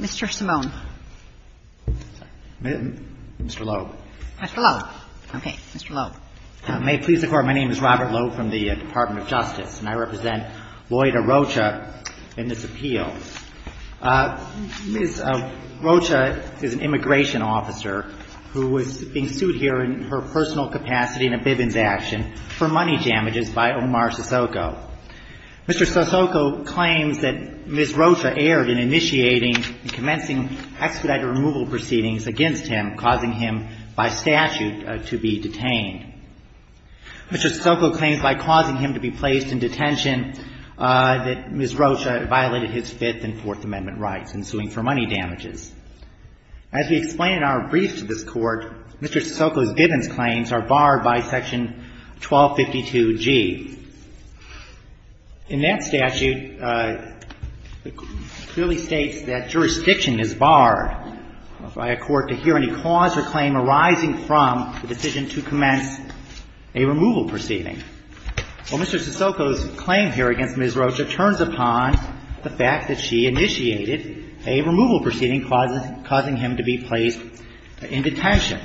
Mr. Simone. Mr. Loeb. Mr. Loeb. Okay. Mr. Loeb. May it please the Court, my name is Robert Loeb from the Department of Justice, and I represent Lloyda Rocha in this appeal. Ms. Rocha is an immigration officer who was being sued here in her personal capacity in a Bivens action for money damages by Omar Sissoko. Mr. Sissoko claims that Ms. Rocha erred in initiating and commencing expedited removal proceedings against him, causing him by statute to be detained. Mr. Sissoko claims by causing him to be placed in detention that Ms. Rocha violated his Fifth and Fourth Amendment rights in suing for money damages. As we explain in our brief to this Court, Mr. Sissoko's Bivens claims are barred by section 1252G. In that statute, it clearly states that jurisdiction is barred by a court to hear any cause or claim arising from the decision to commence a removal proceeding. Well, Mr. Sissoko's claim here against Ms. Rocha turns upon the fact that she initiated a removal proceeding causing him to be placed in detention.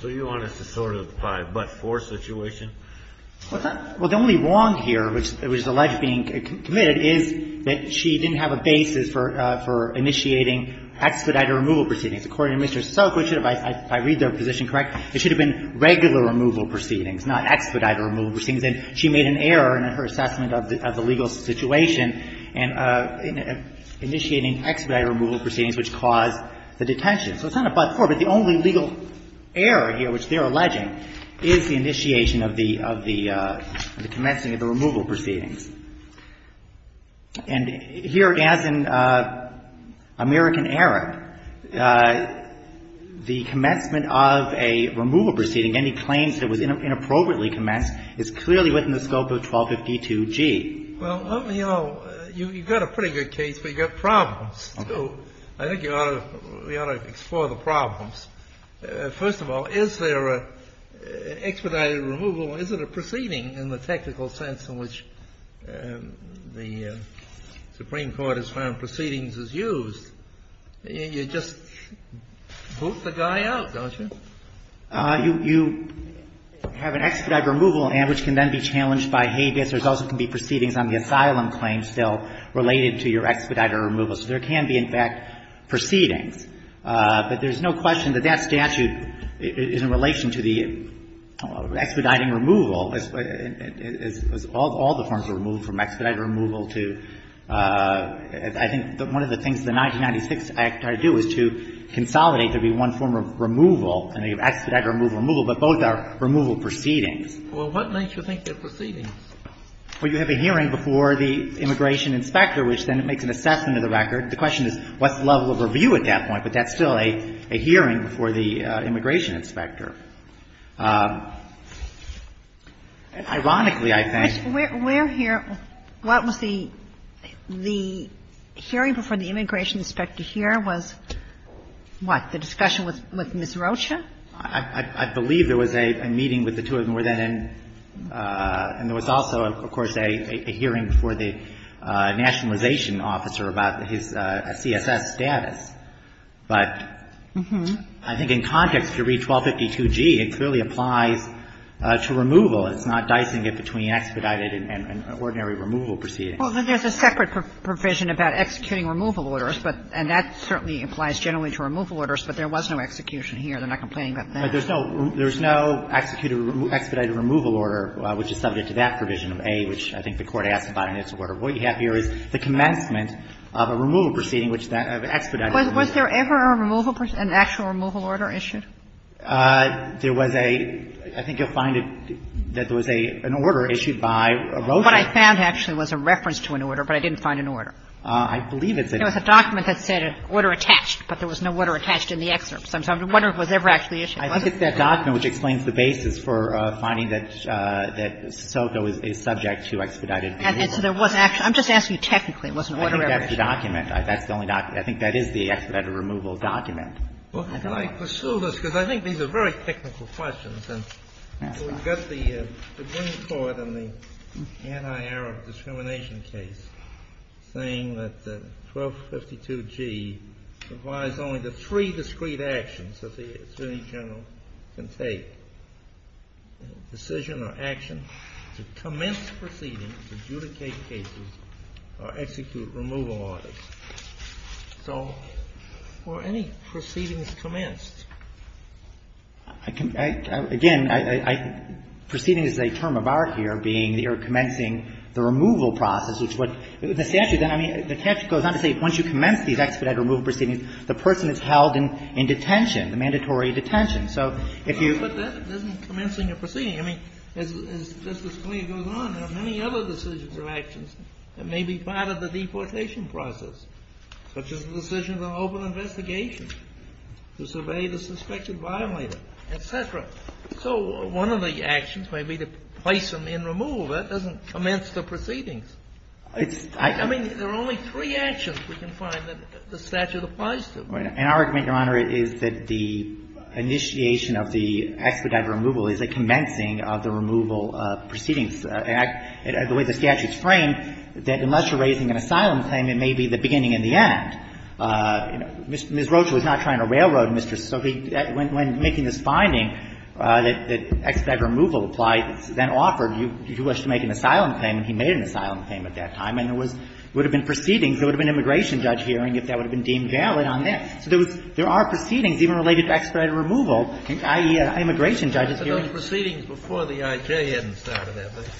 So you want us to sort of buy a but-for situation? Well, the only wrong here, which is alleged being committed, is that she didn't have a basis for initiating expedited removal proceedings. According to Mr. Sissoko, if I read their position correct, it should have been regular removal proceedings, not expedited removal proceedings. And she made an error in her assessment of the legal situation in initiating expedited removal proceedings which caused the detention. So it's not a but-for, but the only legal error here which they're alleging is the initiation of the – of the commencing of the removal proceedings. And here, as in American error, the commencement of a removal proceeding, any claims that was inappropriately commenced, is clearly within the scope of 1252G. Well, let me – you've got a pretty good case, but you've got problems, too. I think you ought to – we ought to explore the problems. First of all, is there an expedited removal? Is it a proceeding in the technical sense in which the Supreme Court has found proceedings is used? You just boot the guy out, don't you? You have an expedited removal, which can then be challenged by habeas. There also can be proceedings on the asylum claim still related to your expedited removal. So there can be, in fact, proceedings. But there's no question that that statute is in relation to the expediting removal, as all the forms of removal, from expedited removal to – I think one of the things the 1996 Act tried to do is to consolidate there being one form of removal, expedited removal, but both are removal proceedings. Well, what makes you think they're proceedings? Well, you have a hearing before the immigration inspector, which then makes an assessment of the record. The question is, what's the level of review at that point? But that's still a hearing before the immigration inspector. Ironically, I think – Where here – what was the – the hearing before the immigration inspector here was, what, the discussion with Ms. Rocha? I believe there was a meeting with the two of them. And there was also, of course, a hearing before the nationalization officer about his CSS status. But I think in context, if you read 1252g, it clearly applies to removal. It's not dicing it between expedited and ordinary removal proceedings. Well, there's a separate provision about executing removal orders, but – and that certainly applies generally to removal orders, but there was no execution here. They're not complaining about that. But there's no – there's no expedited removal order, which is subject to that provision of A, which I think the Court asked about in its order. What you have here is the commencement of a removal proceeding, which that – of expedited removal. Was there ever a removal – an actual removal order issued? There was a – I think you'll find that there was an order issued by Rocha. What I found actually was a reference to an order, but I didn't find an order. I believe it's a – There was a document that said order attached, but there was no order attached in the excerpt. So I'm wondering if it was ever actually issued. I think it's that document which explains the basis for finding that – that Soto is subject to expedited removal. So there was – I'm just asking you technically. It wasn't order ever issued. I think that's the document. That's the only document. I think that is the expedited removal document. Well, can I pursue this? Because I think these are very technical questions. And so we've got the Green Court in the anti-Arab discrimination case saying that 1252G implies only the three discrete actions that the attorney general can take, decision or action, to commence proceedings, adjudicate cases, or execute removal orders. So were any proceedings commenced? Again, I – proceeding is a term of art here being you're commencing the removal process, which is what the statute – I mean, the statute goes on to say once you commence these expedited removal proceedings, the person is held in detention, the mandatory detention. So if you – But that doesn't commence in your proceeding. I mean, as Justice Scalia goes on, there are many other decisions or actions that may be part of the deportation process, such as the decision of an open investigation to survey the suspected violator, et cetera. So one of the actions may be to place them in removal. That doesn't commence the proceedings. It's – I – I mean, there are only three actions we can find that the statute applies to. And our argument, Your Honor, is that the initiation of the expedited removal is a commencing of the removal proceedings. The way the statute's framed, that unless you're raising an asylum claim, it may be the beginning and the end. Ms. Rocha was not trying to railroad Mr. – when making this finding that expedited removal applies, then offered, you wish to make an asylum claim, and he made an asylum claim at that time. And there was – would have been proceedings. There would have been an immigration judge hearing if that would have been deemed valid on that. So there was – there are proceedings even related to expedited removal, i.e., immigration judges hearing. But those proceedings before the I.J. hadn't started, have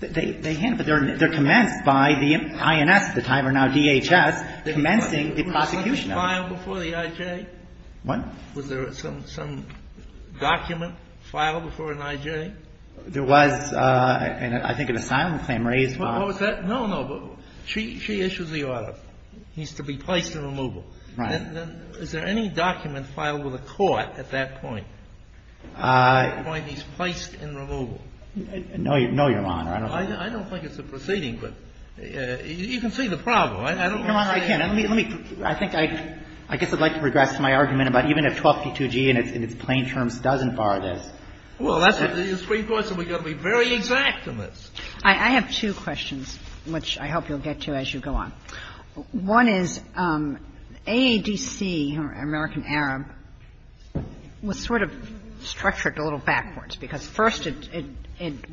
they? They – they hadn't. But they're commenced by the INS at the time, or now DHS, commencing the prosecution of them. Was there some file before the I.J.? What? Was there some document filed before an I.J.? There was, I think, an asylum claim raised by – No, no. She issues the order. He's to be placed in removal. Right. Is there any document filed with the court at that point? At that point, he's placed in removal. No, Your Honor. I don't think so. I don't think it's a proceeding, but you can see the problem. Your Honor, I can't. Let me – let me – I think I – I guess I'd like to regress to my argument about even if 1252g in its plain terms doesn't bar this. Well, that's a extreme question. We've got to be very exact in this. I have two questions, which I hope you'll get to as you go on. One is AADC, American Arab, was sort of structured a little backwards, because first it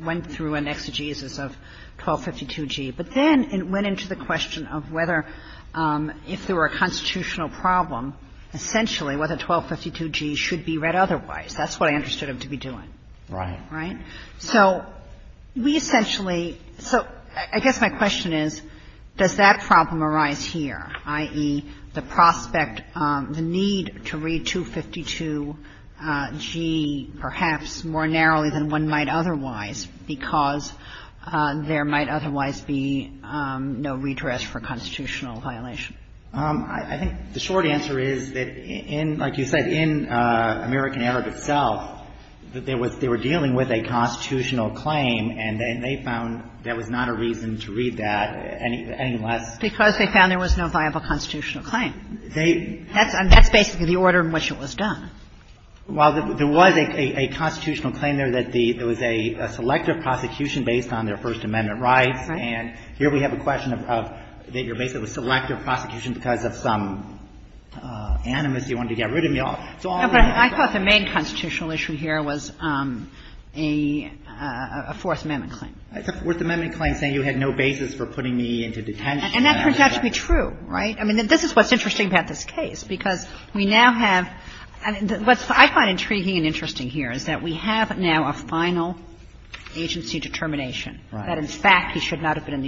went through an exegesis of 1252g. But then it went into the question of whether if there were a constitutional problem, essentially whether 1252g should be read otherwise. That's what I understood him to be doing. Right. Right? So we essentially – so I guess my question is, does that problem arise here, i.e., the prospect, the need to read 252g perhaps more narrowly than one might otherwise because there might otherwise be no redress for constitutional violation? I think the short answer is that in – like you said, in American Arab itself, there was – they were dealing with a constitutional claim, and then they found there was not a reason to read that, any less. Because they found there was no viable constitutional claim. They – And that's basically the order in which it was done. Well, there was a constitutional claim there that the – there was a selective prosecution based on their First Amendment rights. Right. And here we have a question of – that you're basically a selective prosecution because of some animus. You wanted to get rid of me all. No, but I thought the main constitutional issue here was a Fourth Amendment claim. It's a Fourth Amendment claim saying you had no basis for putting me into detention. And that turns out to be true. Right? I mean, this is what's interesting about this case, because we now have – what I find intriguing and interesting here is that we have now a final agency determination that, in fact, he should not have been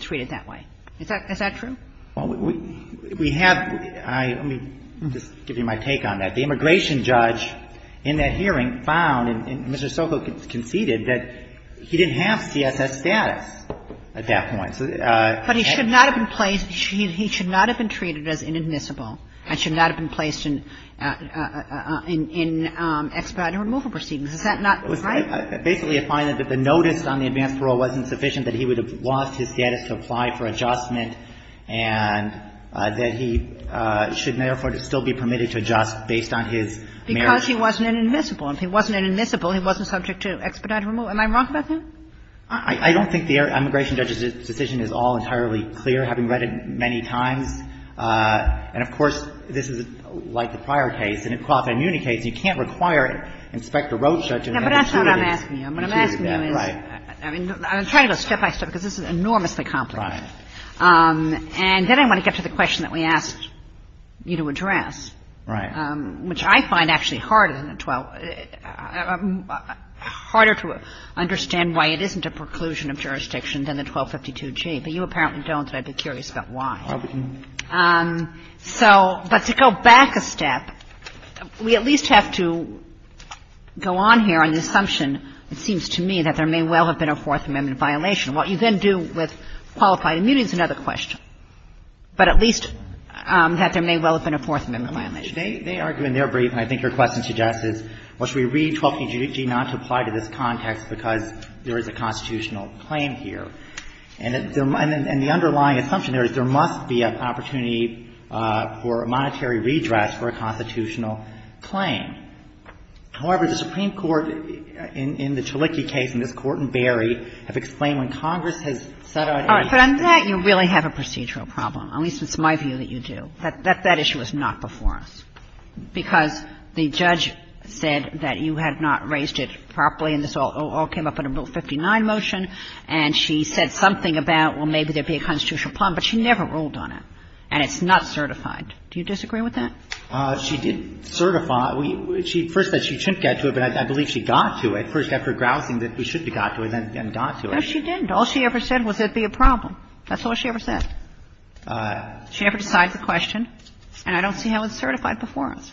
treated that way. Is that true? Well, we have – let me just give you my take on that. The immigration judge in that hearing found, and Mr. Sokol conceded, that he didn't have CSS status at that point. But he should not have been placed – he should not have been treated as inadmissible and should not have been placed in expedited removal proceedings. Is that not right? Basically, I find that the notice on the advance parole wasn't sufficient, that he would have lost his status to apply for adjustment, and that he should therefore still be permitted to adjust based on his marriage. Because he wasn't inadmissible. If he wasn't inadmissible, he wasn't subject to expedited removal. Am I wrong about that? I don't think the immigration judge's decision is all entirely clear, having read it many times. And, of course, this is like the prior case. In a qualified immunity case, you can't require Inspector Roach to have been treated that way. No, but that's not what I'm asking you. What I'm asking you is – Right. I'm trying to go step by step, because this is enormously complicated. Right. And then I want to get to the question that we asked you to address. Right. Well, I'm going to start with the 1252G, which I find actually harder than the 12 – harder to understand why it isn't a preclusion of jurisdiction than the 1252G. But you apparently don't, and I'd be curious about why. So, but to go back a step, we at least have to go on here on the assumption, it seems to me, that there may well have been a Fourth Amendment violation. What you then do with qualified immunity is another question, but at least that there may well have been a Fourth Amendment violation. They argue in their brief, and I think your question suggests, is, well, should we read 1252G not to apply to this context because there is a constitutional claim here? And the underlying assumption there is there must be an opportunity for a monetary redress for a constitutional claim. However, the Supreme Court, in the Chaliki case, in this Court in Berry, have explained when Congress has set out any – All right. But on that, you really have a procedural problem. At least it's my view that you do. That issue was not before us, because the judge said that you had not raised it properly, and this all came up in a Bill 59 motion, and she said something about, well, maybe there'd be a constitutional problem, but she never ruled on it, and it's not certified. Do you disagree with that? She did certify. She first said she shouldn't get to it, but I believe she got to it, first after grousing that we should be got to it and then got to it. No, she didn't. All she ever said was it'd be a problem. That's all she ever said. She never decides the question, and I don't see how it's certified before us.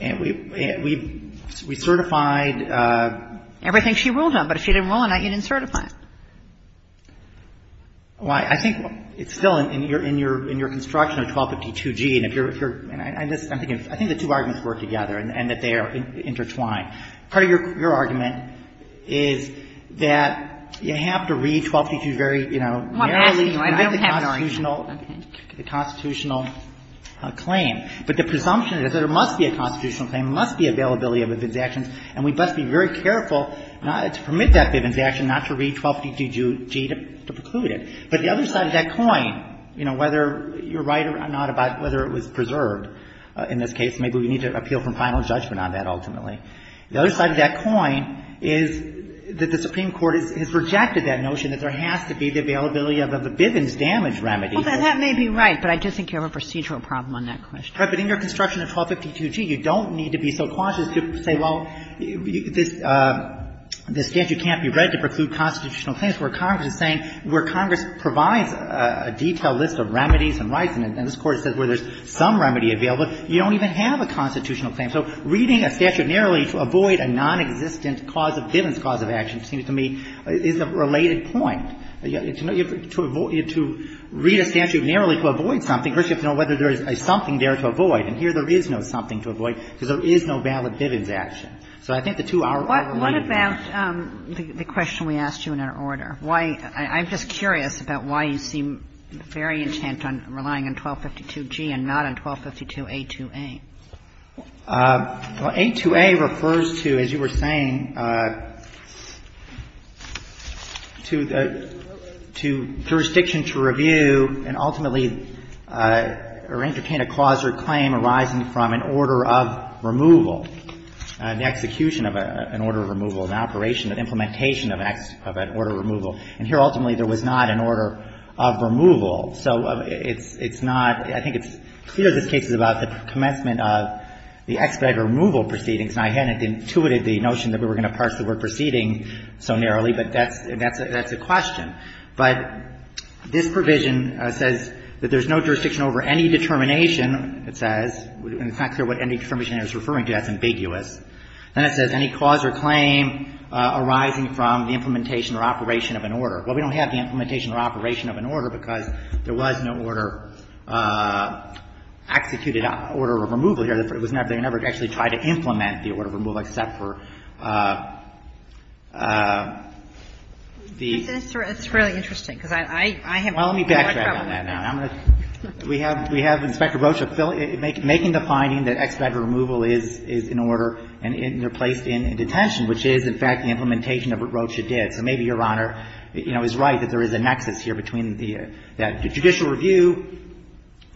And we've – we certified – Everything she ruled on. But if she didn't rule on it, you didn't certify it. Well, I think it's still in your construction of 1252g, and if you're – and I'm just – I think the two arguments work together and that they are intertwined. Part of your argument is that you have to read 1252 very, you know, narrowly. I don't have an argument. The constitutional claim. But the presumption is that there must be a constitutional claim, there must be availability of evidence actions, and we must be very careful to permit that evidence action, not to read 1252g to preclude it. But the other side of that coin, you know, whether you're right or not about whether it was preserved in this case, maybe we need to appeal for final judgment on that ultimately. The other side of that coin is that the Supreme Court has rejected that notion that there has to be the availability of a Bivens damage remedy. Well, that may be right, but I do think you have a procedural problem on that question. Right. But in your construction of 1252g, you don't need to be so cautious to say, well, this statute can't be read to preclude constitutional claims. Where Congress is saying – where Congress provides a detailed list of remedies and rights, and this Court says where there's some remedy available, you don't even have a constitutional claim. So reading a statute narrowly to avoid a nonexistent cause of Bivens cause of action seems to me is a related point. To avoid – to read a statute narrowly to avoid something, first you have to know whether there is something there to avoid. And here there is no something to avoid because there is no valid Bivens action. So I think the two are related. What about the question we asked you in our order? Why – I'm just curious about why you seem very intent on relying on 1252g and not on 1252a2a. Well, a2a refers to, as you were saying, to the – to jurisdiction to review and ultimately entertain a cause or claim arising from an order of removal, an execution of an order of removal, an operation, an implementation of an order of removal. And here ultimately there was not an order of removal. So it's not – I think it's clear this case is about the commencement of the expedited removal proceedings. And I hadn't intuited the notion that we were going to parse the word proceeding so narrowly, but that's a question. But this provision says that there is no jurisdiction over any determination, it says, and it's not clear what any determination it's referring to. That's ambiguous. Then it says any cause or claim arising from the implementation or operation of an order. Well, we don't have the implementation or operation of an order because there was no order executed, order of removal here. It was never – they never actually tried to implement the order of removal except for the – But it's really interesting because I haven't – Well, let me backtrack on that now. I'm going to – we have Inspector Rocha making the finding that expedited removal is an order and they're placed in detention, which is, in fact, the implementation of what Rocha did. So maybe Your Honor, you know, is right that there is a nexus here between the judicial review,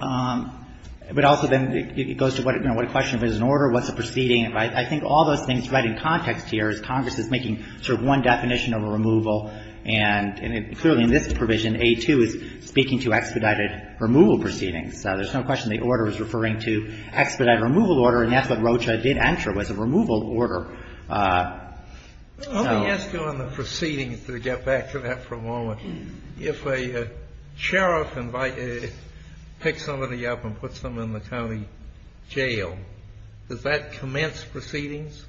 but also then it goes to, you know, what a question if it's an order, what's a proceeding. I think all those things right in context here is Congress is making sort of one definition of a removal and clearly in this provision, A2 is speaking to expedited removal proceedings. So there's no question the order is referring to expedited removal order and that's what Rocha did enter was a removal order. Let me ask you on the proceedings to get back to that for a moment. If a sheriff invites – picks somebody up and puts them in the county jail, does that commence proceedings?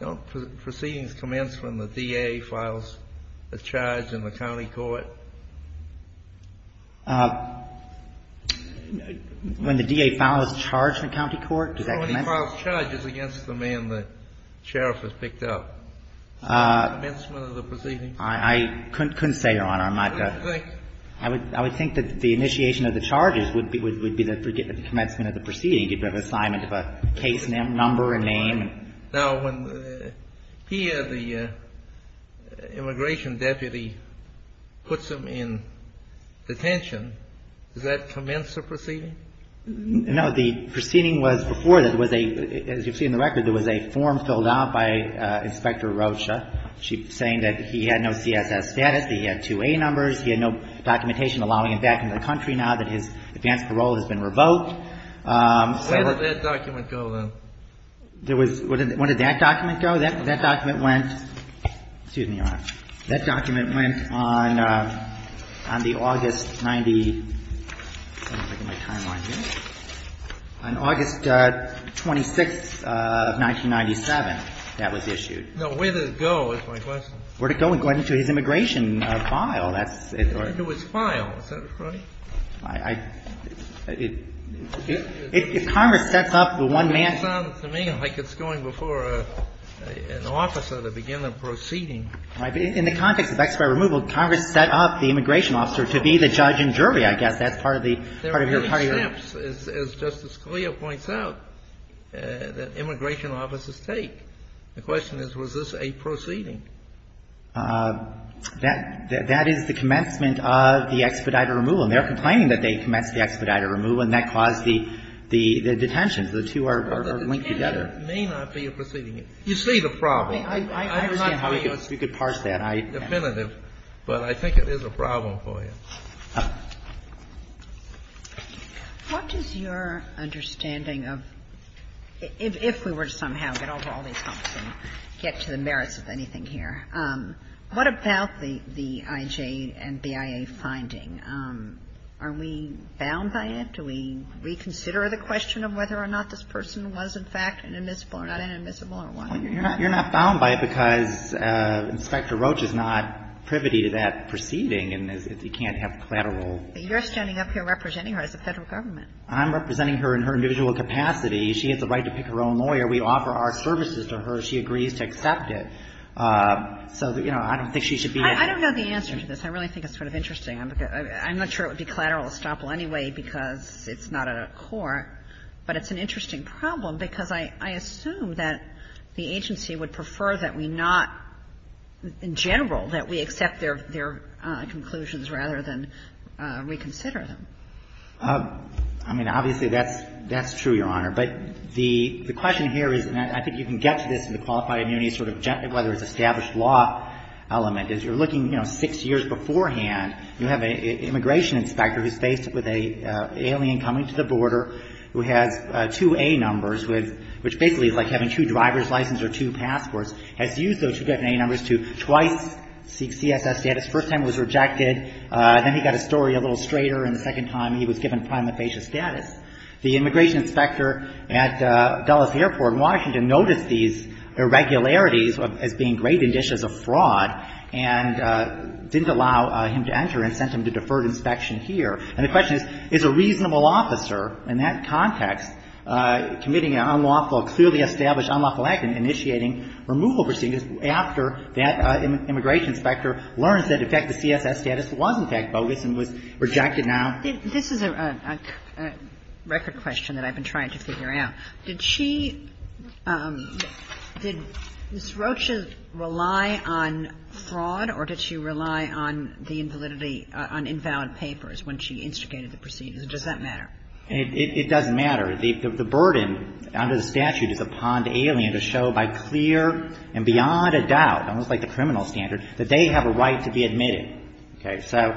Don't proceedings commence when the DA files a charge in the county court? When the DA files a charge in the county court, does that commence? When he files charges against the man the sheriff has picked up, does that commence one of the proceedings? I couldn't say, Your Honor. I'm not – What do you think? I would think that the initiation of the charges would be the commencement of the proceeding. You'd have an assignment of a case number and name. the proceeding? No, the proceeding was before that was a, as you see in the record, there was a form filled out by Inspector Rocha saying that he had no CSS status, that he had 2A numbers, he had no documentation allowing him back into the country now that his advance parole has been revoked. Where did that document go, then? There was – where did that document go? That document went – excuse me, Your Honor. That document went on the August 90 – let me see if I can get my timeline here. On August 26, 1997, that was issued. No, where did it go is my question. Where did it go? It went into his immigration file. It went into his file. Is that right? I – if Congress sets up the one man – It sounds to me like it's going before an officer to begin the proceeding. In the context of expedited removal, Congress set up the immigration officer to be the judge and jury, I guess. That's part of the – part of your – There are many steps, as Justice Scalia points out, that immigration officers take. The question is, was this a proceeding? That – that is the commencement of the expedited removal, and they're complaining that they commenced the expedited removal, and that caused the – the detention. So the two are linked together. It may not be a proceeding. You see the problem. I understand how you could parse that. I – Definitive, but I think it is a problem for you. What is your understanding of – if we were to somehow get over all these humps and get to the merits of anything here, what about the IJ and BIA finding? Are we bound by it? Do we reconsider the question of whether or not this person was, in fact, an admissible or not an admissible, or what? You're not – you're not bound by it because Inspector Roach is not privy to that proceeding and is – he can't have collateral. You're standing up here representing her as the Federal Government. I'm representing her in her individual capacity. She has a right to pick her own lawyer. We offer our services to her. She agrees to accept it. So, you know, I don't think she should be – I don't know the answer to this. I really think it's sort of interesting. I'm not sure it would be collateral estoppel anyway because it's not a court, but it's an interesting problem because I assume that the agency would prefer that we not – in general, that we accept their conclusions rather than reconsider them. I mean, obviously, that's true, Your Honor. But the question here is – and I think you can get to this in the qualified immunity sort of – whether it's established law element. As you're looking, you know, six years beforehand, you have an immigration inspector who's faced with an alien coming to the border who has two A-numbers, which basically is like having two driver's licenses or two passports, has used those two A-numbers to twice seek CSS status. The first time it was rejected. Then he got his story a little straighter, and the second time he was given prima facie status. The immigration inspector at Dulles Airport in Washington noticed these irregularities as being great indicias of fraud and didn't allow him to enter and sent him to deferred inspection here. And the question is, is a reasonable officer in that context committing an unlawful – clearly established unlawful act in initiating removal proceedings after that immigration inspector learns that, in fact, the CSS status was, in fact, bogus and was rejected now? This is a record question that I've been trying to figure out. Did she – did Ms. Rocha rely on fraud or did she rely on the invalidity on invalid papers when she instigated the proceedings? Does that matter? It doesn't matter. The burden under the statute is upon the alien to show by clear and beyond a doubt, almost like the criminal standard, that they have a right to be admitted. Okay. So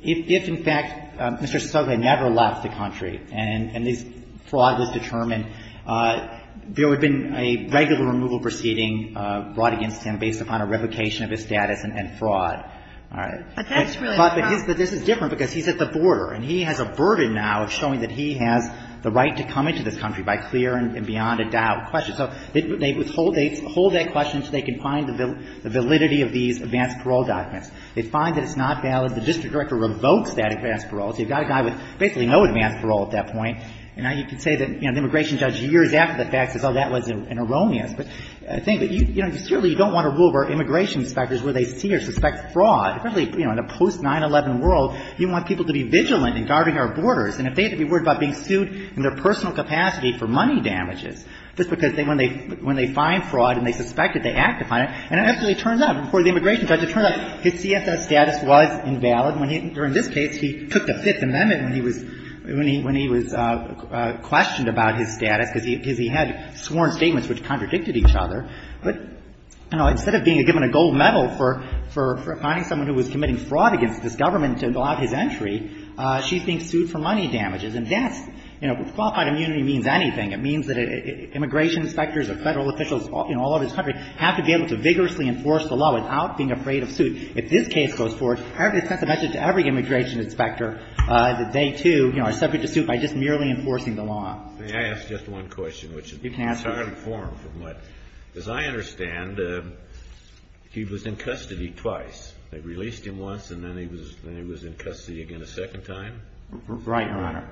if, in fact, Mr. Sotomayor never left the country and this fraud was determined, there would have been a regular removal proceeding brought against him based upon a revocation of his status and fraud. All right. But that's really the problem. But this is different because he's at the border and he has a burden now of showing that he has the right to come into this country by clear and beyond a doubt. So they withhold that question so they can find the validity of these advanced parole documents. They find that it's not valid. The district director revokes that advanced parole. So you've got a guy with basically no advanced parole at that point. And now you can say that, you know, the immigration judge years after the fact says, oh, that was an erroneous thing. But, you know, clearly you don't want to rule where immigration inspectors, where they see or suspect fraud. Really, you know, in a post-9-11 world, you want people to be vigilant in guarding our borders. And if they had to be worried about being sued in their personal capacity for money damages, just because when they find fraud and they suspect it, they act upon it. And it actually turns out before the immigration judge, it turns out his CFS status was invalid. During this case, he took the Fifth Amendment when he was questioned about his status because he had sworn statements which contradicted each other. But, you know, instead of being given a gold medal for finding someone who was committing fraud against this government to allow his entry, she's being sued for money damages. And that's, you know, qualified immunity means anything. It means that immigration inspectors or Federal officials, you know, all over this country have to be able to vigorously enforce the law without being afraid of suit. If this case goes forward, it sends a message to every immigration inspector that they, too, you know, are subject to suit by just merely enforcing the law. May I ask just one question? You can ask. As I understand, he was in custody twice. They released him once and then he was in custody again a second time? Right, Your Honor.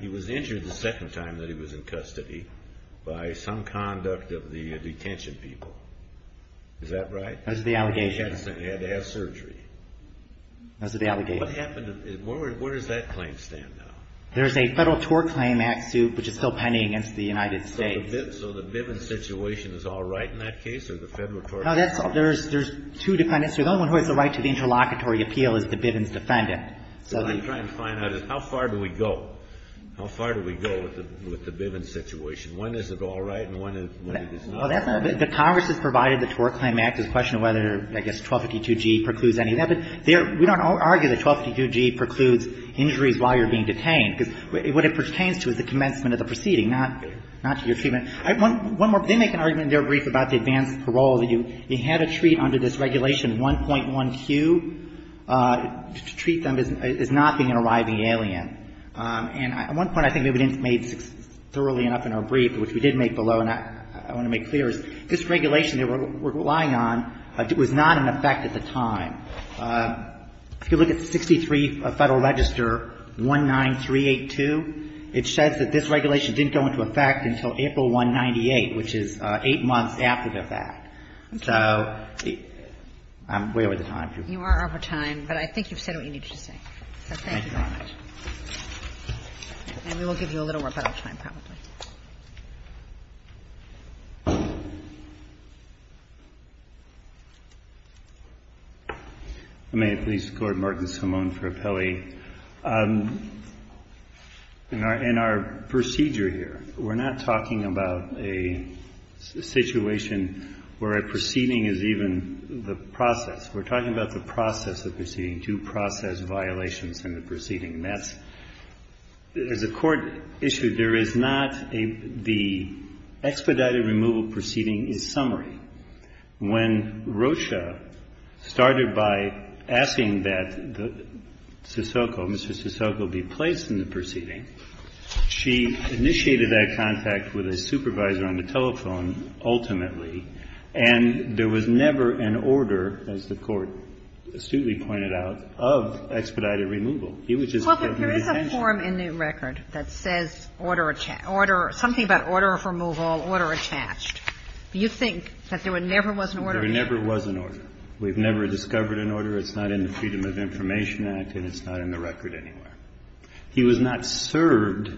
He was injured the second time that he was in custody by some conduct of the detention people. Is that right? That's the allegation. He had to have surgery. That's the allegation. What happened? Where does that claim stand now? There's a Federal TOR Claim Act suit which is still pending against the United States. So the Bivens situation is all right in that case or the Federal TOR Claim Act? No, there's two defendants. The only one who has the right to the interlocutory appeal is the Bivens defendant. What I'm trying to find out is how far do we go? How far do we go with the Bivens situation? When is it all right and when is it not? The Congress has provided the TOR Claim Act. We don't argue that 1252G precludes injuries while you're being detained because what it pertains to is the commencement of the proceeding, not your treatment. One more. They make an argument in their brief about the advanced parole that you had to treat under this regulation 1.1Q to treat them as not being an arriving alien. And one point I think maybe we didn't make thoroughly enough in our brief, which we did make below and I want to make clear, is this regulation they were relying on was not in effect at the time. If you look at 63 Federal Register 19382, it says that this regulation didn't go into effect until April 198, which is eight months after the fact. So I'm way over the time. You are over time, but I think you've said what you needed to say. So thank you very much. Thank you very much. And we will give you a little more time probably. I may at least go to Martin Simone for appellee. In our procedure here, we're not talking about a situation where a proceeding is even the process. We're talking about the process of proceeding, due process violations in the proceeding. That's, as the Court issued, there is not a, the expedited removal proceeding is summary. When Rocha started by asking that Sissoko, Mr. Sissoko, be placed in the proceeding, she initiated that contact with a supervisor on the telephone ultimately, and there was never an order, as the Court astutely pointed out, of expedited removal. He was just given the detention. Well, but there is a form in the record that says order, order, something about order of removal, order attached. Do you think that there never was an order? There never was an order. We've never discovered an order. It's not in the Freedom of Information Act, and it's not in the record anywhere. He was not served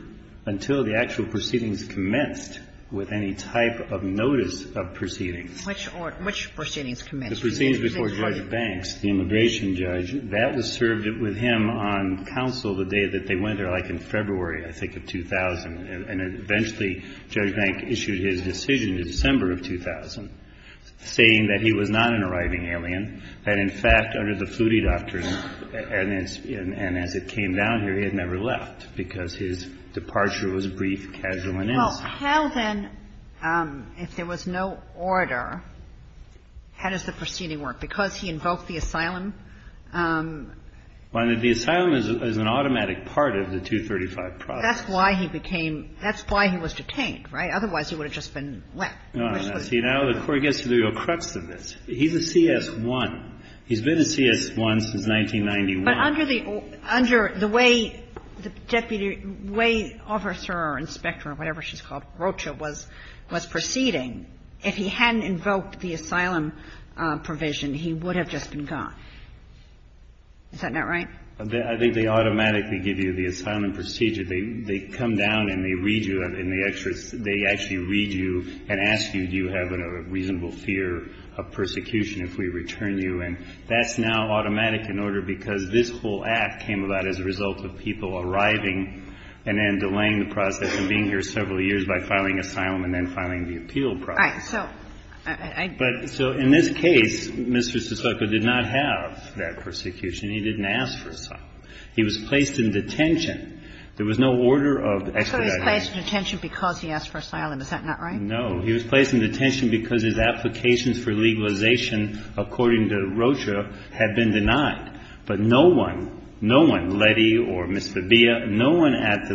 until the actual proceedings commenced with any type of notice of proceedings. Which order? Which proceedings commenced? The proceedings before Judge Banks, the immigration judge. That was served with him on counsel the day that they went there, like in February, I think, of 2000, and eventually Judge Banks issued his decision in December of 2000, saying that he was not an arriving alien, that, in fact, under the Flutie doctrine, and as it came down here, he had never left, because his departure was brief, casual, and instant. Well, how then, if there was no order, how does the proceeding work? Because he invoked the asylum? Well, I mean, the asylum is an automatic part of the 235 process. That's why he became – that's why he was detained, right? Otherwise, he would have just been left. No, no. See, now the Court gets to the real crux of this. He's a CS-1. He's been a CS-1 since 1991. But under the way the Deputy – way Officer or Inspector or whatever she's called, Rocha, was proceeding, if he hadn't invoked the asylum provision, he would have just been gone. Is that not right? I think they automatically give you the asylum procedure. They come down and they read you in the – they actually read you and ask you, do you have a reasonable fear of persecution if we return you? And that's now automatic in order because this whole act came about as a result of people arriving and then delaying the process and being here several years by filing asylum and then filing the appeal process. All right. So I – But – so in this case, Mr. Sotoko did not have that persecution. He didn't ask for asylum. He was placed in detention. There was no order of expediting. So he was placed in detention because he asked for asylum. Is that not right? No. He was placed in detention because his applications for legalization, according to Rocha, had been denied. But no one, no one, Letty or Ms. Fabia, no one at the legalization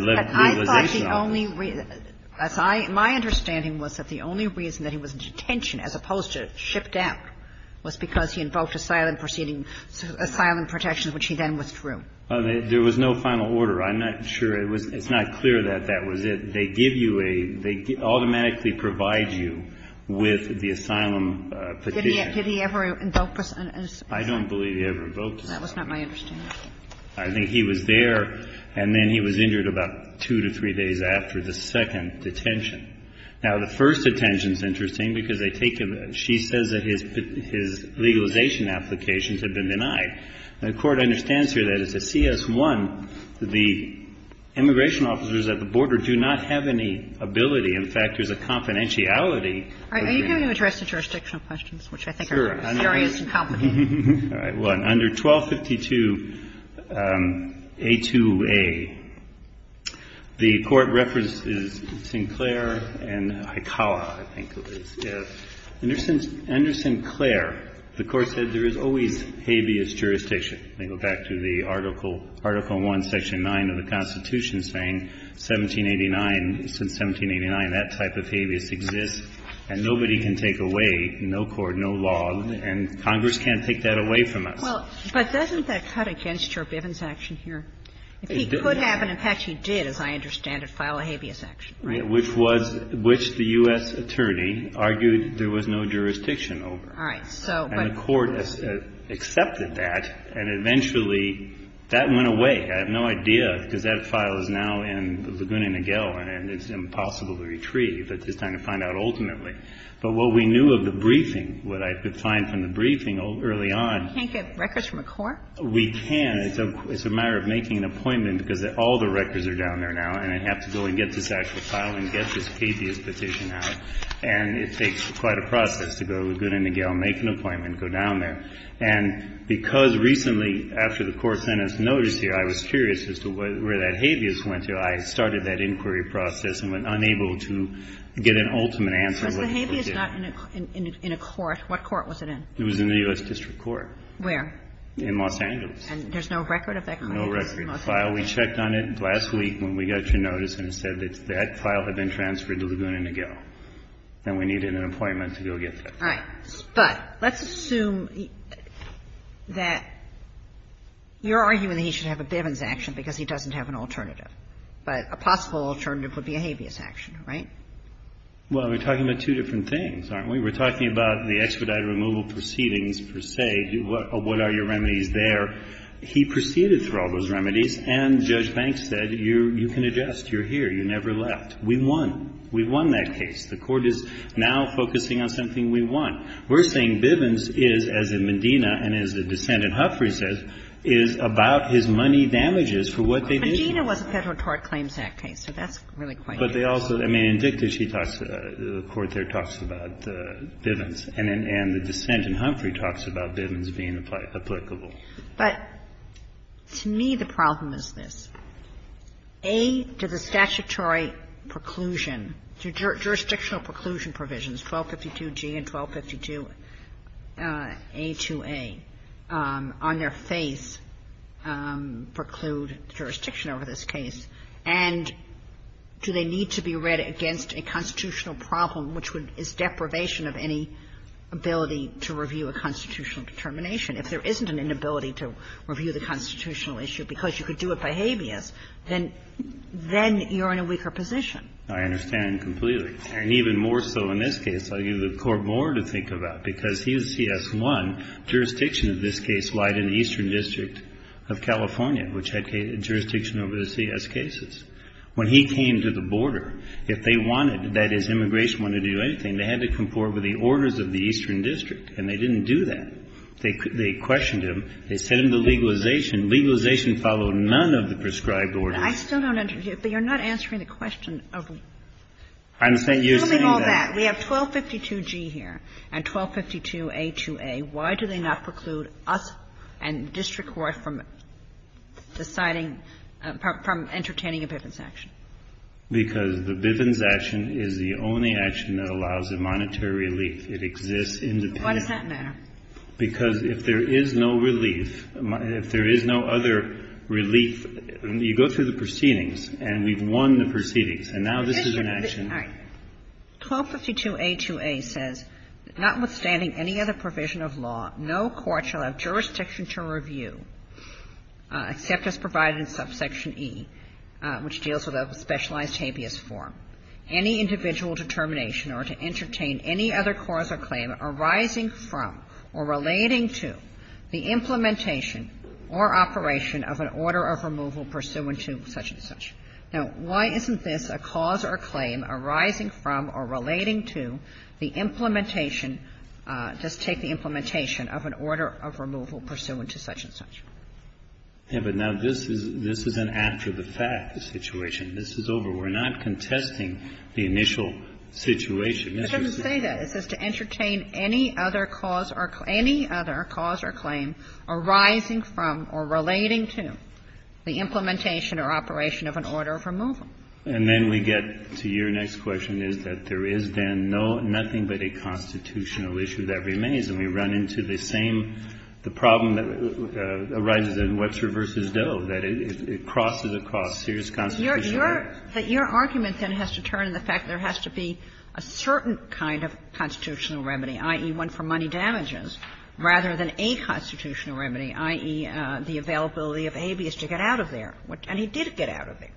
– I thought the only – my understanding was that the only reason that he was in detention as opposed to shipped out was because he invoked asylum proceeding – asylum protections, which he then withdrew. There was no final order. I'm not sure. It's not clear that that was it. They give you a – they automatically provide you with the asylum petition. Did he ever invoke this? I don't believe he ever invoked this. That was not my understanding. I think he was there, and then he was injured about two to three days after the second detention. Now, the first detention is interesting because they take him – she says that his legalization applications had been denied. The Court understands here that as a CS1, the immigration officers at the border do not have any ability. In fact, there's a confidentiality. Are you going to address the jurisdictional questions, which I think are serious and complicated? All right. Well, under 1252a2a, the Court references Sinclair and Hikawa, I think it was. Yes. Under Sinclair, the Court said there is always habeas jurisdiction. They go back to the Article 1, Section 9 of the Constitution saying 1789 – since 1789, that type of habeas exists, and nobody can take away no cord, no log, and Congress can't take that away from us. Well, but doesn't that cut against Joe Bivens' action here? It did. It could happen. In fact, he did, as I understand it, file a habeas action. Right. Which was – which the U.S. attorney argued there was no jurisdiction over. All right. So but – And the Court accepted that, and eventually that went away. I have no idea, because that file is now in the Laguna Niguel, and it's impossible to retrieve. It's just time to find out ultimately. But what we knew of the briefing, what I could find from the briefing early on – You can't get records from a court? We can. It's a matter of making an appointment, because all the records are down there now, and I have to go and get this actual file and get this habeas petition out. And it takes quite a process to go to Laguna Niguel, make an appointment, go down there. And because recently, after the court sentence notice here, I was curious as to where that habeas went to. I started that inquiry process and went unable to get an ultimate answer. Was the habeas not in a court? What court was it in? It was in the U.S. District Court. Where? In Los Angeles. And there's no record of that? No record. The file, we checked on it last week when we got your notice, and it said that that file had been transferred to Laguna Niguel. And we needed an appointment to go get that file. All right. But let's assume that you're arguing that he should have a bivens action because he doesn't have an alternative. But a possible alternative would be a habeas action, right? Well, we're talking about two different things, aren't we? We're talking about the expedited removal proceedings, per se. What are your remedies there? He proceeded through all those remedies, and Judge Banks said, you can adjust. You're here. You never left. We won. We won that case. The Court is now focusing on something we won. We're saying bivens is, as in Medina and as the dissent in Huffrey says, is about his money damages for what they did. Medina was a Federal Tort Claims Act case, so that's really quite different. But they also, I mean, in Victor, she talks, the Court there talks about bivens, and the dissent in Huffrey talks about bivens being applicable. But to me, the problem is this. A, do the statutory preclusion, jurisdictional preclusion provisions, 1252G and 1252A2A, on their face preclude jurisdiction over this case? And do they need to be read against a constitutional problem, which would, is deprivation of any ability to review a constitutional determination? If there isn't an inability to review the constitutional issue because you could do it by habeas, then you're in a weaker position. I understand completely. And even more so in this case, I'll give the Court more to think about. Because he was CS1. Jurisdiction of this case lied in the Eastern District of California, which had jurisdiction over the CS cases. When he came to the border, if they wanted, that is, immigration wanted to do anything, they had to comport with the orders of the Eastern District. And they didn't do that. They questioned him. They sent him to legalization. Legalization followed none of the prescribed orders. I still don't understand. But you're not answering the question of what? I understand you're saying that. We have 1252G here and 1252A2A. Why do they not preclude us and district court from deciding, from entertaining a Bivens action? Because the Bivens action is the only action that allows a monetary relief. It exists independently. Why does that matter? Because if there is no relief, if there is no other relief, you go through the proceedings And now this is an action. All right. 1252A2A says that notwithstanding any other provision of law, no court shall have jurisdiction to review, except as provided in subsection E, which deals with a specialized habeas form, any individual determination or to entertain any other cause or claim arising from or relating to the implementation or operation of an order of removal pursuant to such and such. Now, why isn't this a cause or claim arising from or relating to the implementation Just take the implementation of an order of removal pursuant to such and such. Yeah, but now this is an after-the-fact situation. This is over. We're not contesting the initial situation. It doesn't say that. It says to entertain any other cause or claim arising from or relating to the implementation or operation of an order of removal. And then we get to your next question, is that there is then no, nothing but a constitutional issue that remains. And we run into the same, the problem that arises in Webster v. Doe, that it crosses across serious constitutional issues. Your argument then has to turn to the fact that there has to be a certain kind of constitutional remedy, i.e., one for money damages, rather than a constitutional remedy, i.e., the availability of habeas to get out of there. And he did get out of there.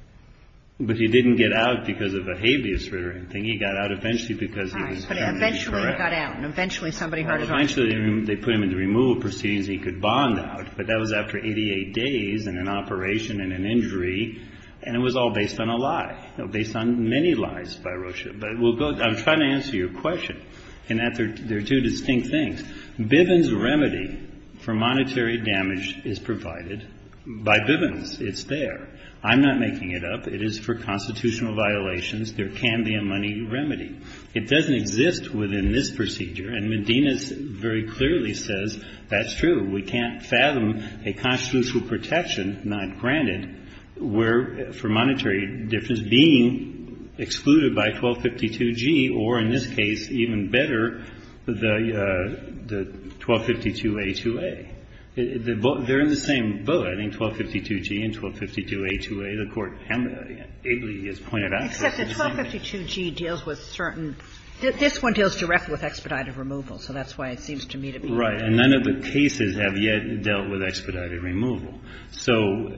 But he didn't get out because of a habeas or anything. He got out eventually because he was found to be corrupt. Right. But eventually he got out. And eventually somebody heard about it. Eventually they put him into removal proceedings and he could bond out. But that was after 88 days and an operation and an injury. And it was all based on a lie, based on many lies by Rosha. But we'll go, I'm trying to answer your question in that there are two distinct things. Bivens remedy for monetary damage is provided by Bivens. It's there. I'm not making it up. It is for constitutional violations. There can be a money remedy. It doesn't exist within this procedure. And Medina very clearly says that's true. We can't fathom a constitutional protection, not granted, where for monetary difference being excluded by 1252G or, in this case, even better, the 1252A2A. They're in the same boat. I think 1252G and 1252A2A, the Court has pointed out. Except that 1252G deals with certain – this one deals directly with expedited removal. So that's why it seems to me to be. Right. And none of the cases have yet dealt with expedited removal. So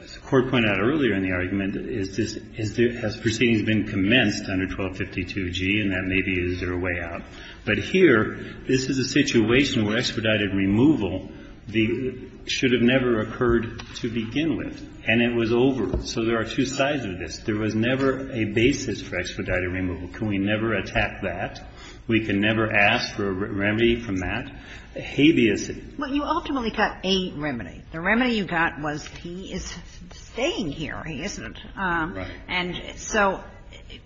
as the Court pointed out earlier in the argument, is this – has proceedings been commenced under 1252G, and that maybe is their way out. But here, this is a situation where expedited removal should have never occurred to begin with. And it was over. So there are two sides of this. There was never a basis for expedited removal. Can we never attack that? We can never ask for a remedy from that? Habeas. Well, you ultimately got a remedy. The remedy you got was he is staying here. He isn't. And so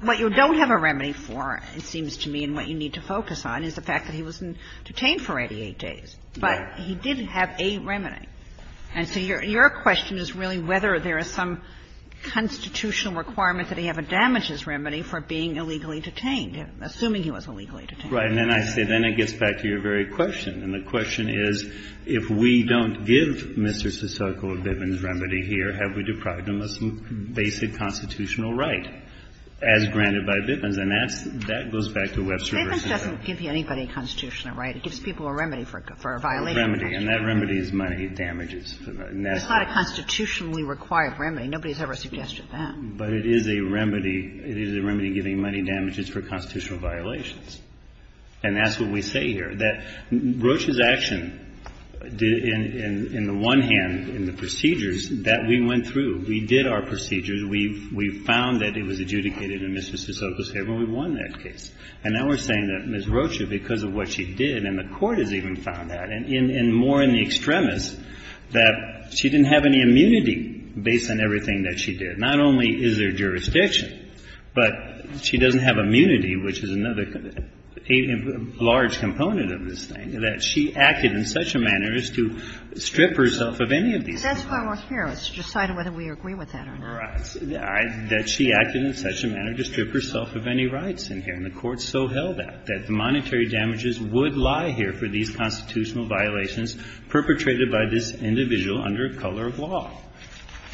what you don't have a remedy for, it seems to me, and what you need to focus on is the fact that he wasn't detained for 88 days. But he did have a remedy. And so your question is really whether there is some constitutional requirement that he have a damages remedy for being illegally detained, assuming he was illegally detained. Right. And then I say then it gets back to your very question. And the question is, if we don't give Mr. Sasoco or Bivens remedy here, have we deprived him of some basic constitutional right as granted by Bivens? And that's the question. That goes back to Webster v. Sasoco. Bivens doesn't give anybody a constitutional right. It gives people a remedy for a violation. A remedy. And that remedy is money damages. That's not a constitutionally required remedy. Nobody has ever suggested that. But it is a remedy. It is a remedy giving money damages for constitutional violations. And that's what we say here. That Rocha's action in the one hand, in the procedures, that we went through. We did our procedures. We found that it was adjudicated in Mr. Sasoco's favor. We won that case. And now we're saying that Ms. Rocha, because of what she did, and the Court has even found that, and more in the extremis, that she didn't have any immunity based on everything that she did. Not only is there jurisdiction, but she doesn't have immunity, which is another large component of this thing, that she acted in such a manner as to strip herself of any of these things. That's why we're here, is to decide whether we agree with that or not. Right. That she acted in such a manner to strip herself of any rights in here. And the Court so held that, that the monetary damages would lie here for these constitutional violations perpetrated by this individual under a color of law.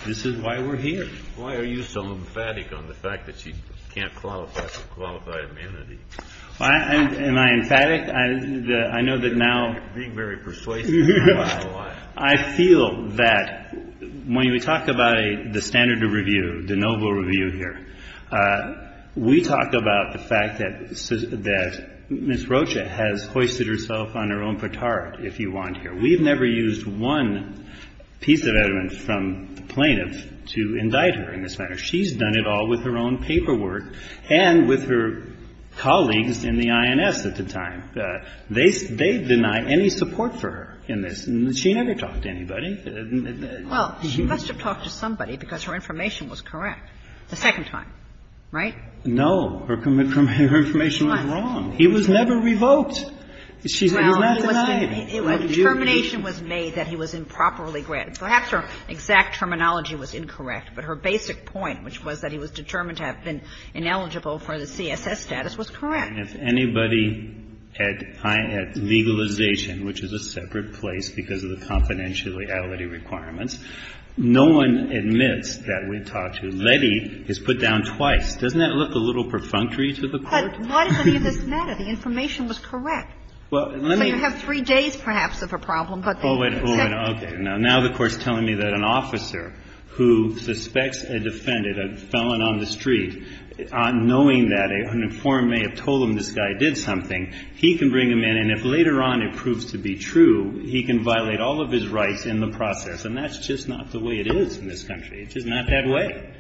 This is why we're here. Why are you so emphatic on the fact that she can't qualify for qualified immunity? Am I emphatic? I know that now. You're being very persuasive. I feel that when we talk about the standard of review, the noble review here, we talk about the fact that Ms. Rocha has hoisted herself on her own petard, if you want here. We've never used one piece of evidence from the plaintiff to indict her in this manner. She's done it all with her own paperwork and with her colleagues in the INS at the time. They deny any support for her in this. She never talked to anybody. Well, she must have talked to somebody because her information was correct the second time, right? Her information was wrong. It was never revoked. She was not denied. Determination was made that he was improperly granted. Perhaps her exact terminology was incorrect, but her basic point, which was that he was determined to have been ineligible for the CSS status, was correct. And if anybody at legalization, which is a separate place because of the confidentiality requirements, no one admits that we talked to. Letty is put down twice. Doesn't that look a little perfunctory to the Court? But why does any of this matter? The information was correct. So you have three days, perhaps, of a problem. Oh, okay. Now the Court is telling me that an officer who suspects a defendant, a felon on the street, knowing that an informant may have told him this guy did something, he can bring him in. And if later on it proves to be true, he can violate all of his rights in the process. And that's just not the way it is in this country. It's just not that way.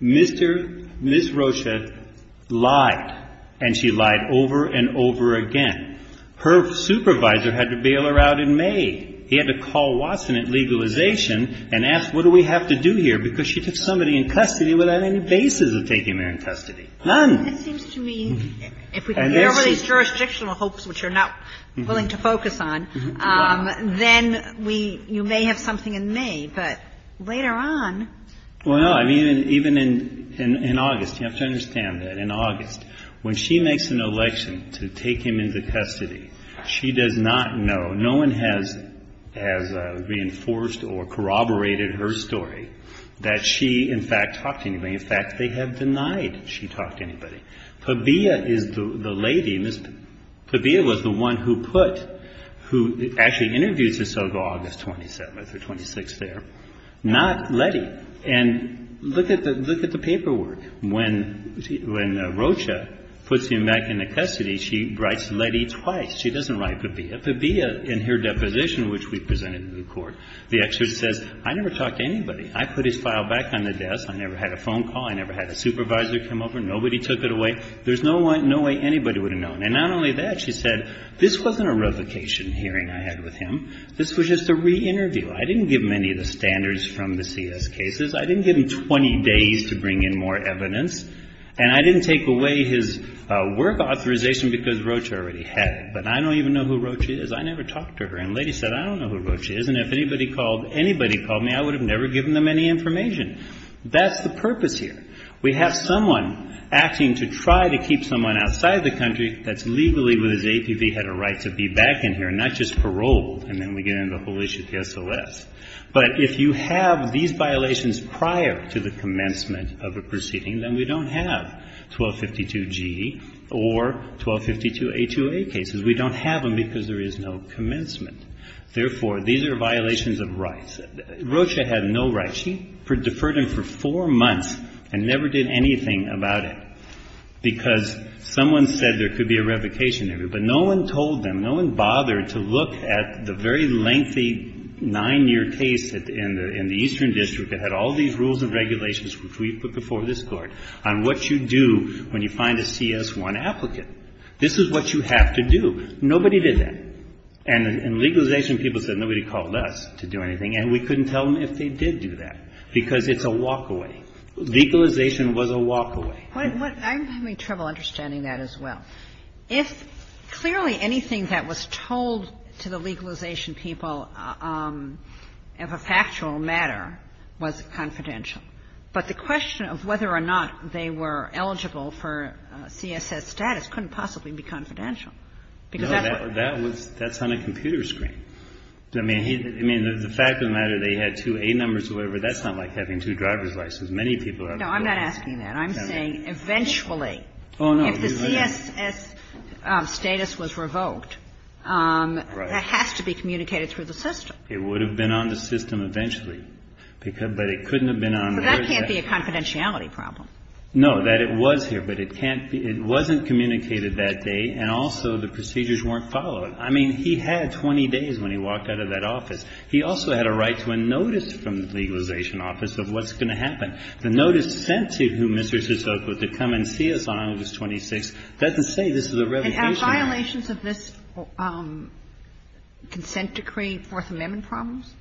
Ms. Rocha lied, and she lied over and over again. Her supervisor had to bail her out in May. He had to call Watson at legalization and ask, what do we have to do here? Because she took somebody in custody without any basis of taking her in custody. None. That seems to me, if we can get over these jurisdictional hopes, which you're not willing to focus on, then we, you may have something in May. But later on. Well, no. I mean, even in August. You have to understand that. When she makes an election to take him into custody, she does not know, no one has reinforced or corroborated her story that she, in fact, talked to anybody. In fact, they have denied she talked to anybody. Tabea is the lady, Ms. Tabea was the one who put, who actually interviews her until August 27th or 26th there. Not Letty. And look at the paperwork. When Rocha puts him back into custody, she writes Letty twice. She doesn't write Tabea. Tabea, in her deposition, which we presented to the Court, the excerpt says, I never talked to anybody. I put his file back on the desk. I never had a phone call. I never had a supervisor come over. Nobody took it away. There's no way anybody would have known. And not only that, she said, this wasn't a revocation hearing I had with him. This was just a re-interview. I didn't give him any of the standards from the CS cases. I didn't give him 20 days to bring in more evidence. And I didn't take away his work authorization because Rocha already had it. But I don't even know who Rocha is. I never talked to her. And Letty said, I don't know who Rocha is. And if anybody called me, I would have never given them any information. That's the purpose here. We have someone acting to try to keep someone outside the country that's legally with his APV had a right to be back in here, not just paroled. And then we get into the whole issue of the SOS. But if you have these violations prior to the commencement of a proceeding, then we don't have 1252G or 1252A2A cases. We don't have them because there is no commencement. Therefore, these are violations of rights. Rocha had no rights. She deferred him for four months and never did anything about it because someone said there could be a revocation hearing. But no one told them, no one bothered to look at the very lengthy nine-year case in the Eastern District that had all these rules and regulations which we put before this Court on what you do when you find a CS-1 applicant. This is what you have to do. Nobody did that. And in legalization, people said nobody called us to do anything. And we couldn't tell them if they did do that because it's a walkaway. Legalization was a walkaway. I'm having trouble understanding that as well. If clearly anything that was told to the legalization people of a factual matter was confidential. But the question of whether or not they were eligible for CSS status couldn't possibly be confidential. No, that's on a computer screen. I mean, the fact of the matter, they had two A numbers or whatever, that's not like having two driver's licenses. Many people are. I'm not asking that. I'm saying eventually. Oh, no. If the CSS status was revoked, that has to be communicated through the system. It would have been on the system eventually. But it couldn't have been on there. So that can't be a confidentiality problem. No, that it was here. But it can't be. It wasn't communicated that day, and also the procedures weren't followed. I mean, he had 20 days when he walked out of that office. He also had a right to a notice from the legalization office of what's going to happen. The notice sent to him, Mr. Sotoko, to come and see us on August 26th, doesn't say this is a revocation. And are violations of this consent decree Fourth Amendment problems?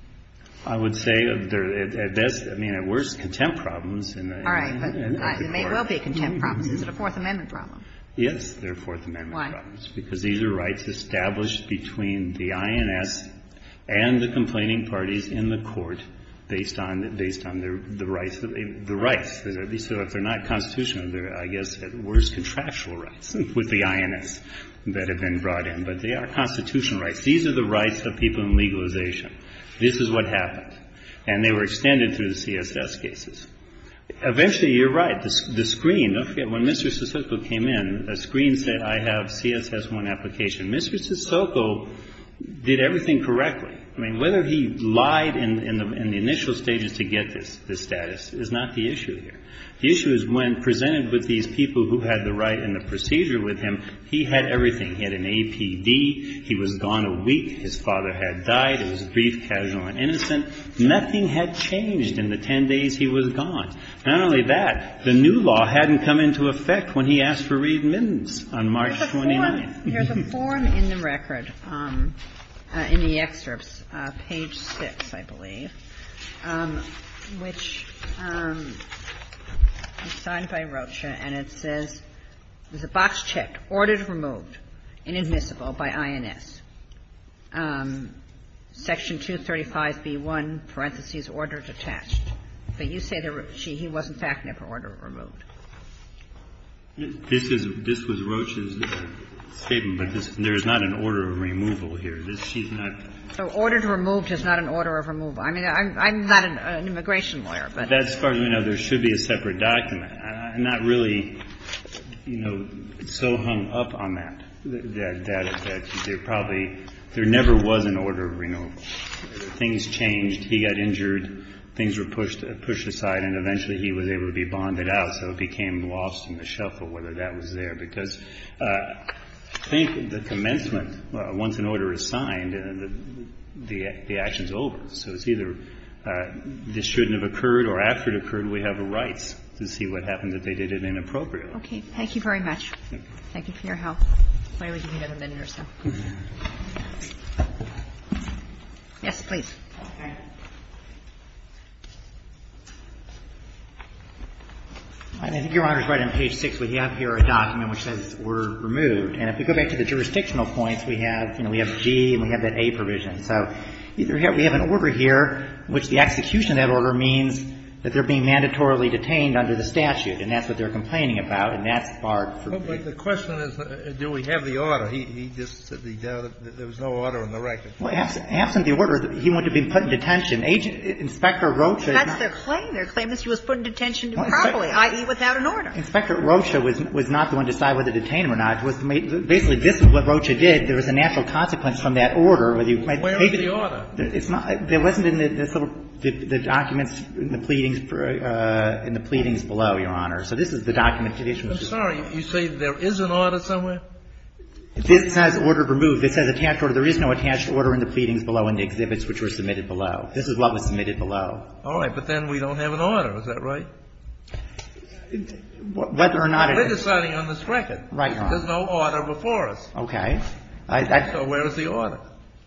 I would say they're at best, I mean, at worst contempt problems. All right. But they may well be contempt problems. Is it a Fourth Amendment problem? Yes, they're Fourth Amendment problems. Why? Because these are rights established between the INS and the complaining parties in the court based on the rights. So if they're not constitutional, they're, I guess, at worst, contractual rights with the INS that have been brought in. But they are constitutional rights. These are the rights of people in legalization. This is what happened. And they were extended through the CSS cases. Eventually, you're right. The screen, don't forget, when Mr. Sotoko came in, a screen said, I have CSS1 application. Mr. Sotoko did everything correctly. I mean, whether he lied in the initial stages to get this status is not the issue here. The issue is when presented with these people who had the right and the procedure with him, he had everything. He had an APD. He was gone a week. His father had died. It was brief, casual, and innocent. Nothing had changed in the 10 days he was gone. Not only that, the new law hadn't come into effect when he asked for readmissions on March 29th. There's a form in the record, in the excerpts, page 6, I believe, which is signed by Rocha, and it says, there's a box checked, ordered removed, inadmissible by INS. Section 235B1, parentheses, order detached. But you say he was, in fact, never ordered removed. This was Rocha's statement, but there's not an order of removal here. She's not ---- So ordered removed is not an order of removal. I mean, I'm not an immigration lawyer, but ---- As far as we know, there should be a separate document. I'm not really, you know, so hung up on that, that there probably, there never was an order of removal. Things changed. He got injured. Things were pushed aside, and eventually he was able to be bonded out. So it became lost in the shuffle whether that was there. Because I think the commencement, once an order is signed, the action's over. So it's either this shouldn't have occurred or after it occurred, we have a right to see what happened, that they did it inappropriately. Okay. Thank you very much. Thank you for your help. May we give you another minute or so? Yes, please. Okay. I think Your Honor's right on page 6. We have here a document which says order removed. And if we go back to the jurisdictional points, we have, you know, we have G and we have that A provision. So we have an order here in which the execution of that order means that they're being mandatorily detained under the statute, and that's what they're complaining about, and that's barred. Well, but the question is, do we have the order? He just said there was no order in the record. Well, absent the order, he wouldn't have been put in detention. Agent Inspector Rocha is not. That's their claim. Their claim is he was put in detention properly, i.e., without an order. Inspector Rocha was not the one to decide whether to detain him or not. Basically, this is what Rocha did. There was a natural consequence from that order. Where is the order? There wasn't in the documents in the pleadings below, Your Honor. So this is the document. I'm sorry. You say there is an order somewhere? This says order removed. This says attached order. There is no attached order in the pleadings below and the exhibits which were submitted below. This is what was submitted below. All right. But then we don't have an order. Is that right? Whether or not it is. We're deciding on this record. Right, Your Honor. There's no order before us. Okay. So where is the order?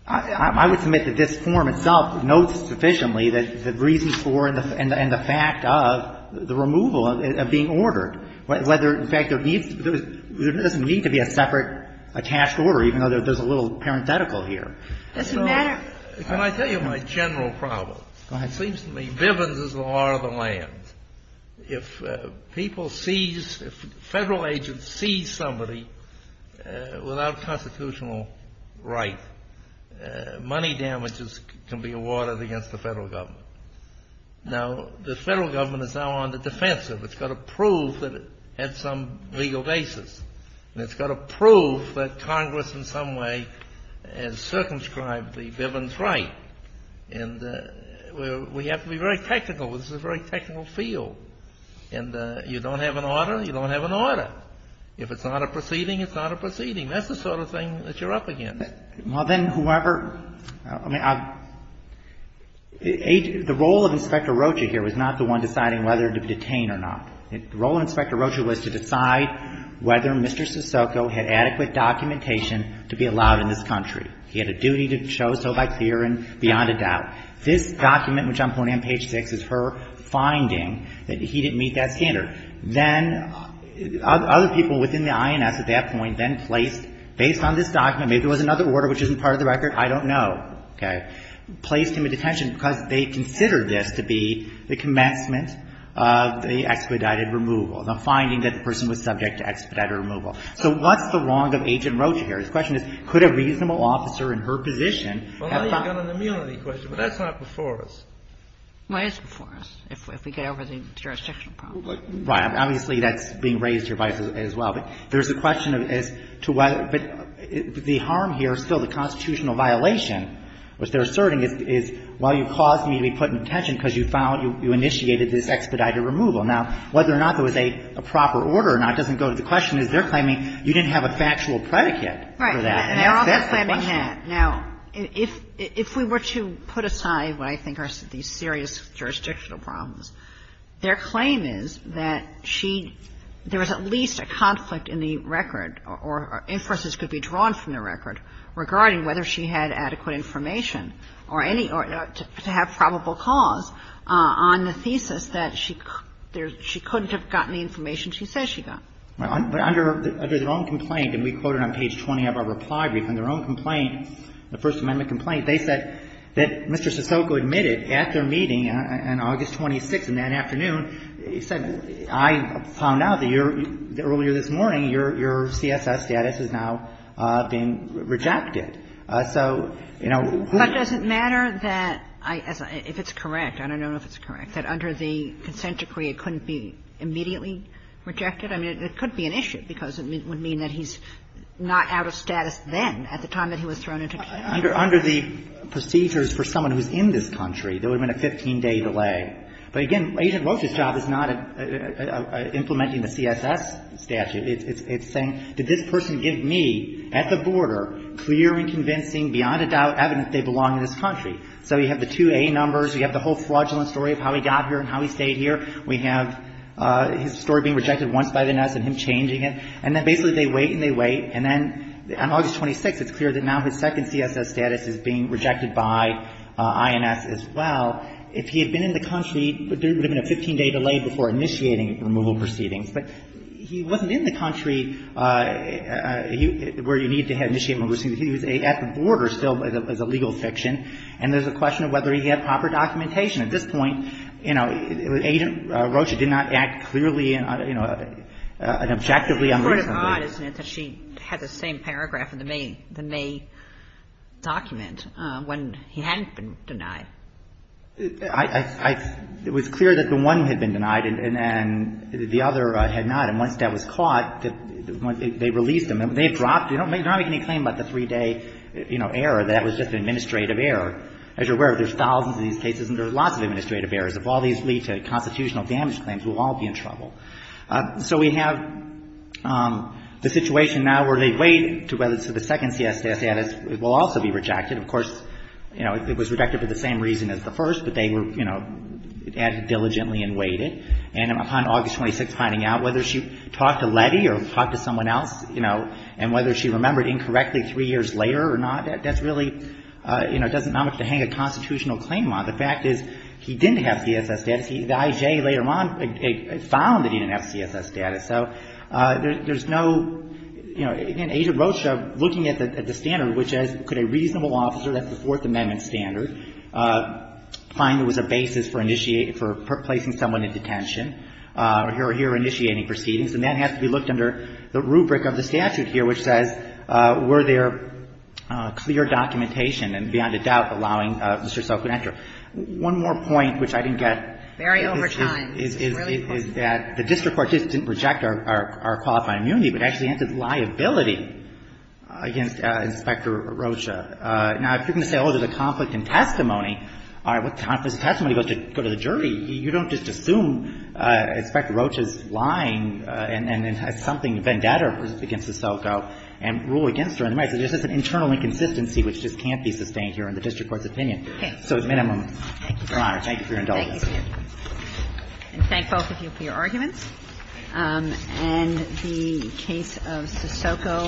I would submit that this form itself notes sufficiently that the reason for and the fact of the removal of being ordered, whether, in fact, there needs to be a separate attached order, even though there's a little parenthetical here. It doesn't matter. Can I tell you my general problem? Go ahead. It seems to me Bivens is the law of the land. If people seize, if Federal agents seize somebody without constitutional right, money damages can be awarded against the Federal Government. Now, the Federal Government is now on the defensive. It's got to prove that it had some legal basis. And it's got to prove that Congress in some way has circumscribed the Bivens right. And we have to be very technical. This is a very technical field. And you don't have an order, you don't have an order. If it's not a proceeding, it's not a proceeding. That's the sort of thing that you're up against. Well, then, whoever, I mean, the role of Inspector Rocha here was not the one deciding whether to be detained or not. The role of Inspector Rocha was to decide whether Mr. Sissoko had adequate documentation to be allowed in this country. He had a duty to show so by clear and beyond a doubt. This document, which I'm pointing on page 6, is her finding that he didn't meet that standard. Then other people within the INS at that point then placed, based on this document, maybe there was another order which isn't part of the record, I don't know, okay, placed him in detention because they considered this to be the commencement of the expedited removal, the finding that the person was subject to expedited removal. So what's the wrong of Agent Rocha here? His question is, could a reasonable officer in her position have found that? Well, now you've got an immunity question, but that's not before us. Well, it is before us if we get over the jurisdictional problem. Right. Obviously, that's being raised here as well. But there's a question as to whether the harm here is still the constitutional violation, which they're asserting is, well, you caused me to be put in detention because you found, you initiated this expedited removal. Now, whether or not there was a proper order or not doesn't go to the question as they're claiming you didn't have a factual predicate for that. Right. And they're also claiming that. Now, if we were to put aside what I think are these serious jurisdictional problems, their claim is that she, there was at least a conflict in the record or inferences could be drawn from the record regarding whether she had adequate information or any, to have probable cause on the thesis that she couldn't have gotten the information she says she got. Right. But under their own complaint, and we quoted on page 20 of our reply brief, on their own complaint, the First Amendment complaint, they said that Mr. Sissoko admitted at their meeting on August 26th in that afternoon, he said, I found out that earlier this morning your CSS status is now being rejected. So, you know. But does it matter that, if it's correct, I don't know if it's correct, that under the consent decree it couldn't be immediately rejected? I mean, it could be an issue because it would mean that he's not out of status then at the time that he was thrown into jail. Under the procedures for someone who's in this country, there would have been a 15-day delay. But again, Agent Rocha's job is not implementing the CSS statute. It's saying, did this person give me, at the border, clear and convincing, beyond a doubt, evidence they belong in this country? So you have the two A numbers. You have the whole fraudulent story of how he got here and how he stayed here. We have his story being rejected once by the NS and him changing it. And then basically they wait and they wait. And then on August 26th, it's clear that now his second CSS status is being rejected by INS as well. If he had been in the country, there would have been a 15-day delay before initiating removal proceedings. But he wasn't in the country where you needed to have initiating removal proceedings. He was at the border still as a legal fiction. And there's a question of whether he had proper documentation. At this point, you know, Agent Rocha did not act clearly and, you know, objectively on this. Kagan. It's odd, isn't it, that she had the same paragraph in the May document when he hadn't been denied. It was clear that the one had been denied and the other had not. And once that was caught, they released him. They dropped it. You don't make any claim about the three-day, you know, error. That was just an administrative error. As you're aware, there's thousands of these cases and there's lots of administrative errors. If all these lead to constitutional damage claims, we'll all be in trouble. So we have the situation now where they wait to whether the second CSS status will also be rejected. Of course, you know, it was rejected for the same reason. It was rejected for the same reason as the first, but they were, you know, acted diligently and waited. And upon August 26th finding out whether she talked to Letty or talked to someone else, you know, and whether she remembered incorrectly three years later or not, that's really, you know, it doesn't amount to hanging a constitutional claim on. The fact is he didn't have CSS status. The I.J. later on found that he didn't have CSS status. So there's no, you know, again, Agent Rocha looking at the standard, which could a reasonable officer, that's the Fourth Amendment standard, find there was a basis for placing someone in detention or here or here initiating proceedings. And that has to be looked under the rubric of the statute here, which says were there clear documentation and beyond a doubt allowing Mr. Soka to enter. One more point, which I didn't get. Very over time. It's really close. Is that the district court didn't reject our qualified immunity, but actually suspended liability against Inspector Rocha. Now, if you're going to say, oh, there's a conflict in testimony, all right, what conflict in testimony goes to go to the jury, you don't just assume Inspector Rocha's lying and then has something vendetta against the Soka and rule against her in the matter. So there's just an internal inconsistency which just can't be sustained here in the district court's opinion. So at minimum, Your Honor, thank you for your indulgence. Thank you, Your Honor. And thank both of you for your arguments. And the case of Sosoko.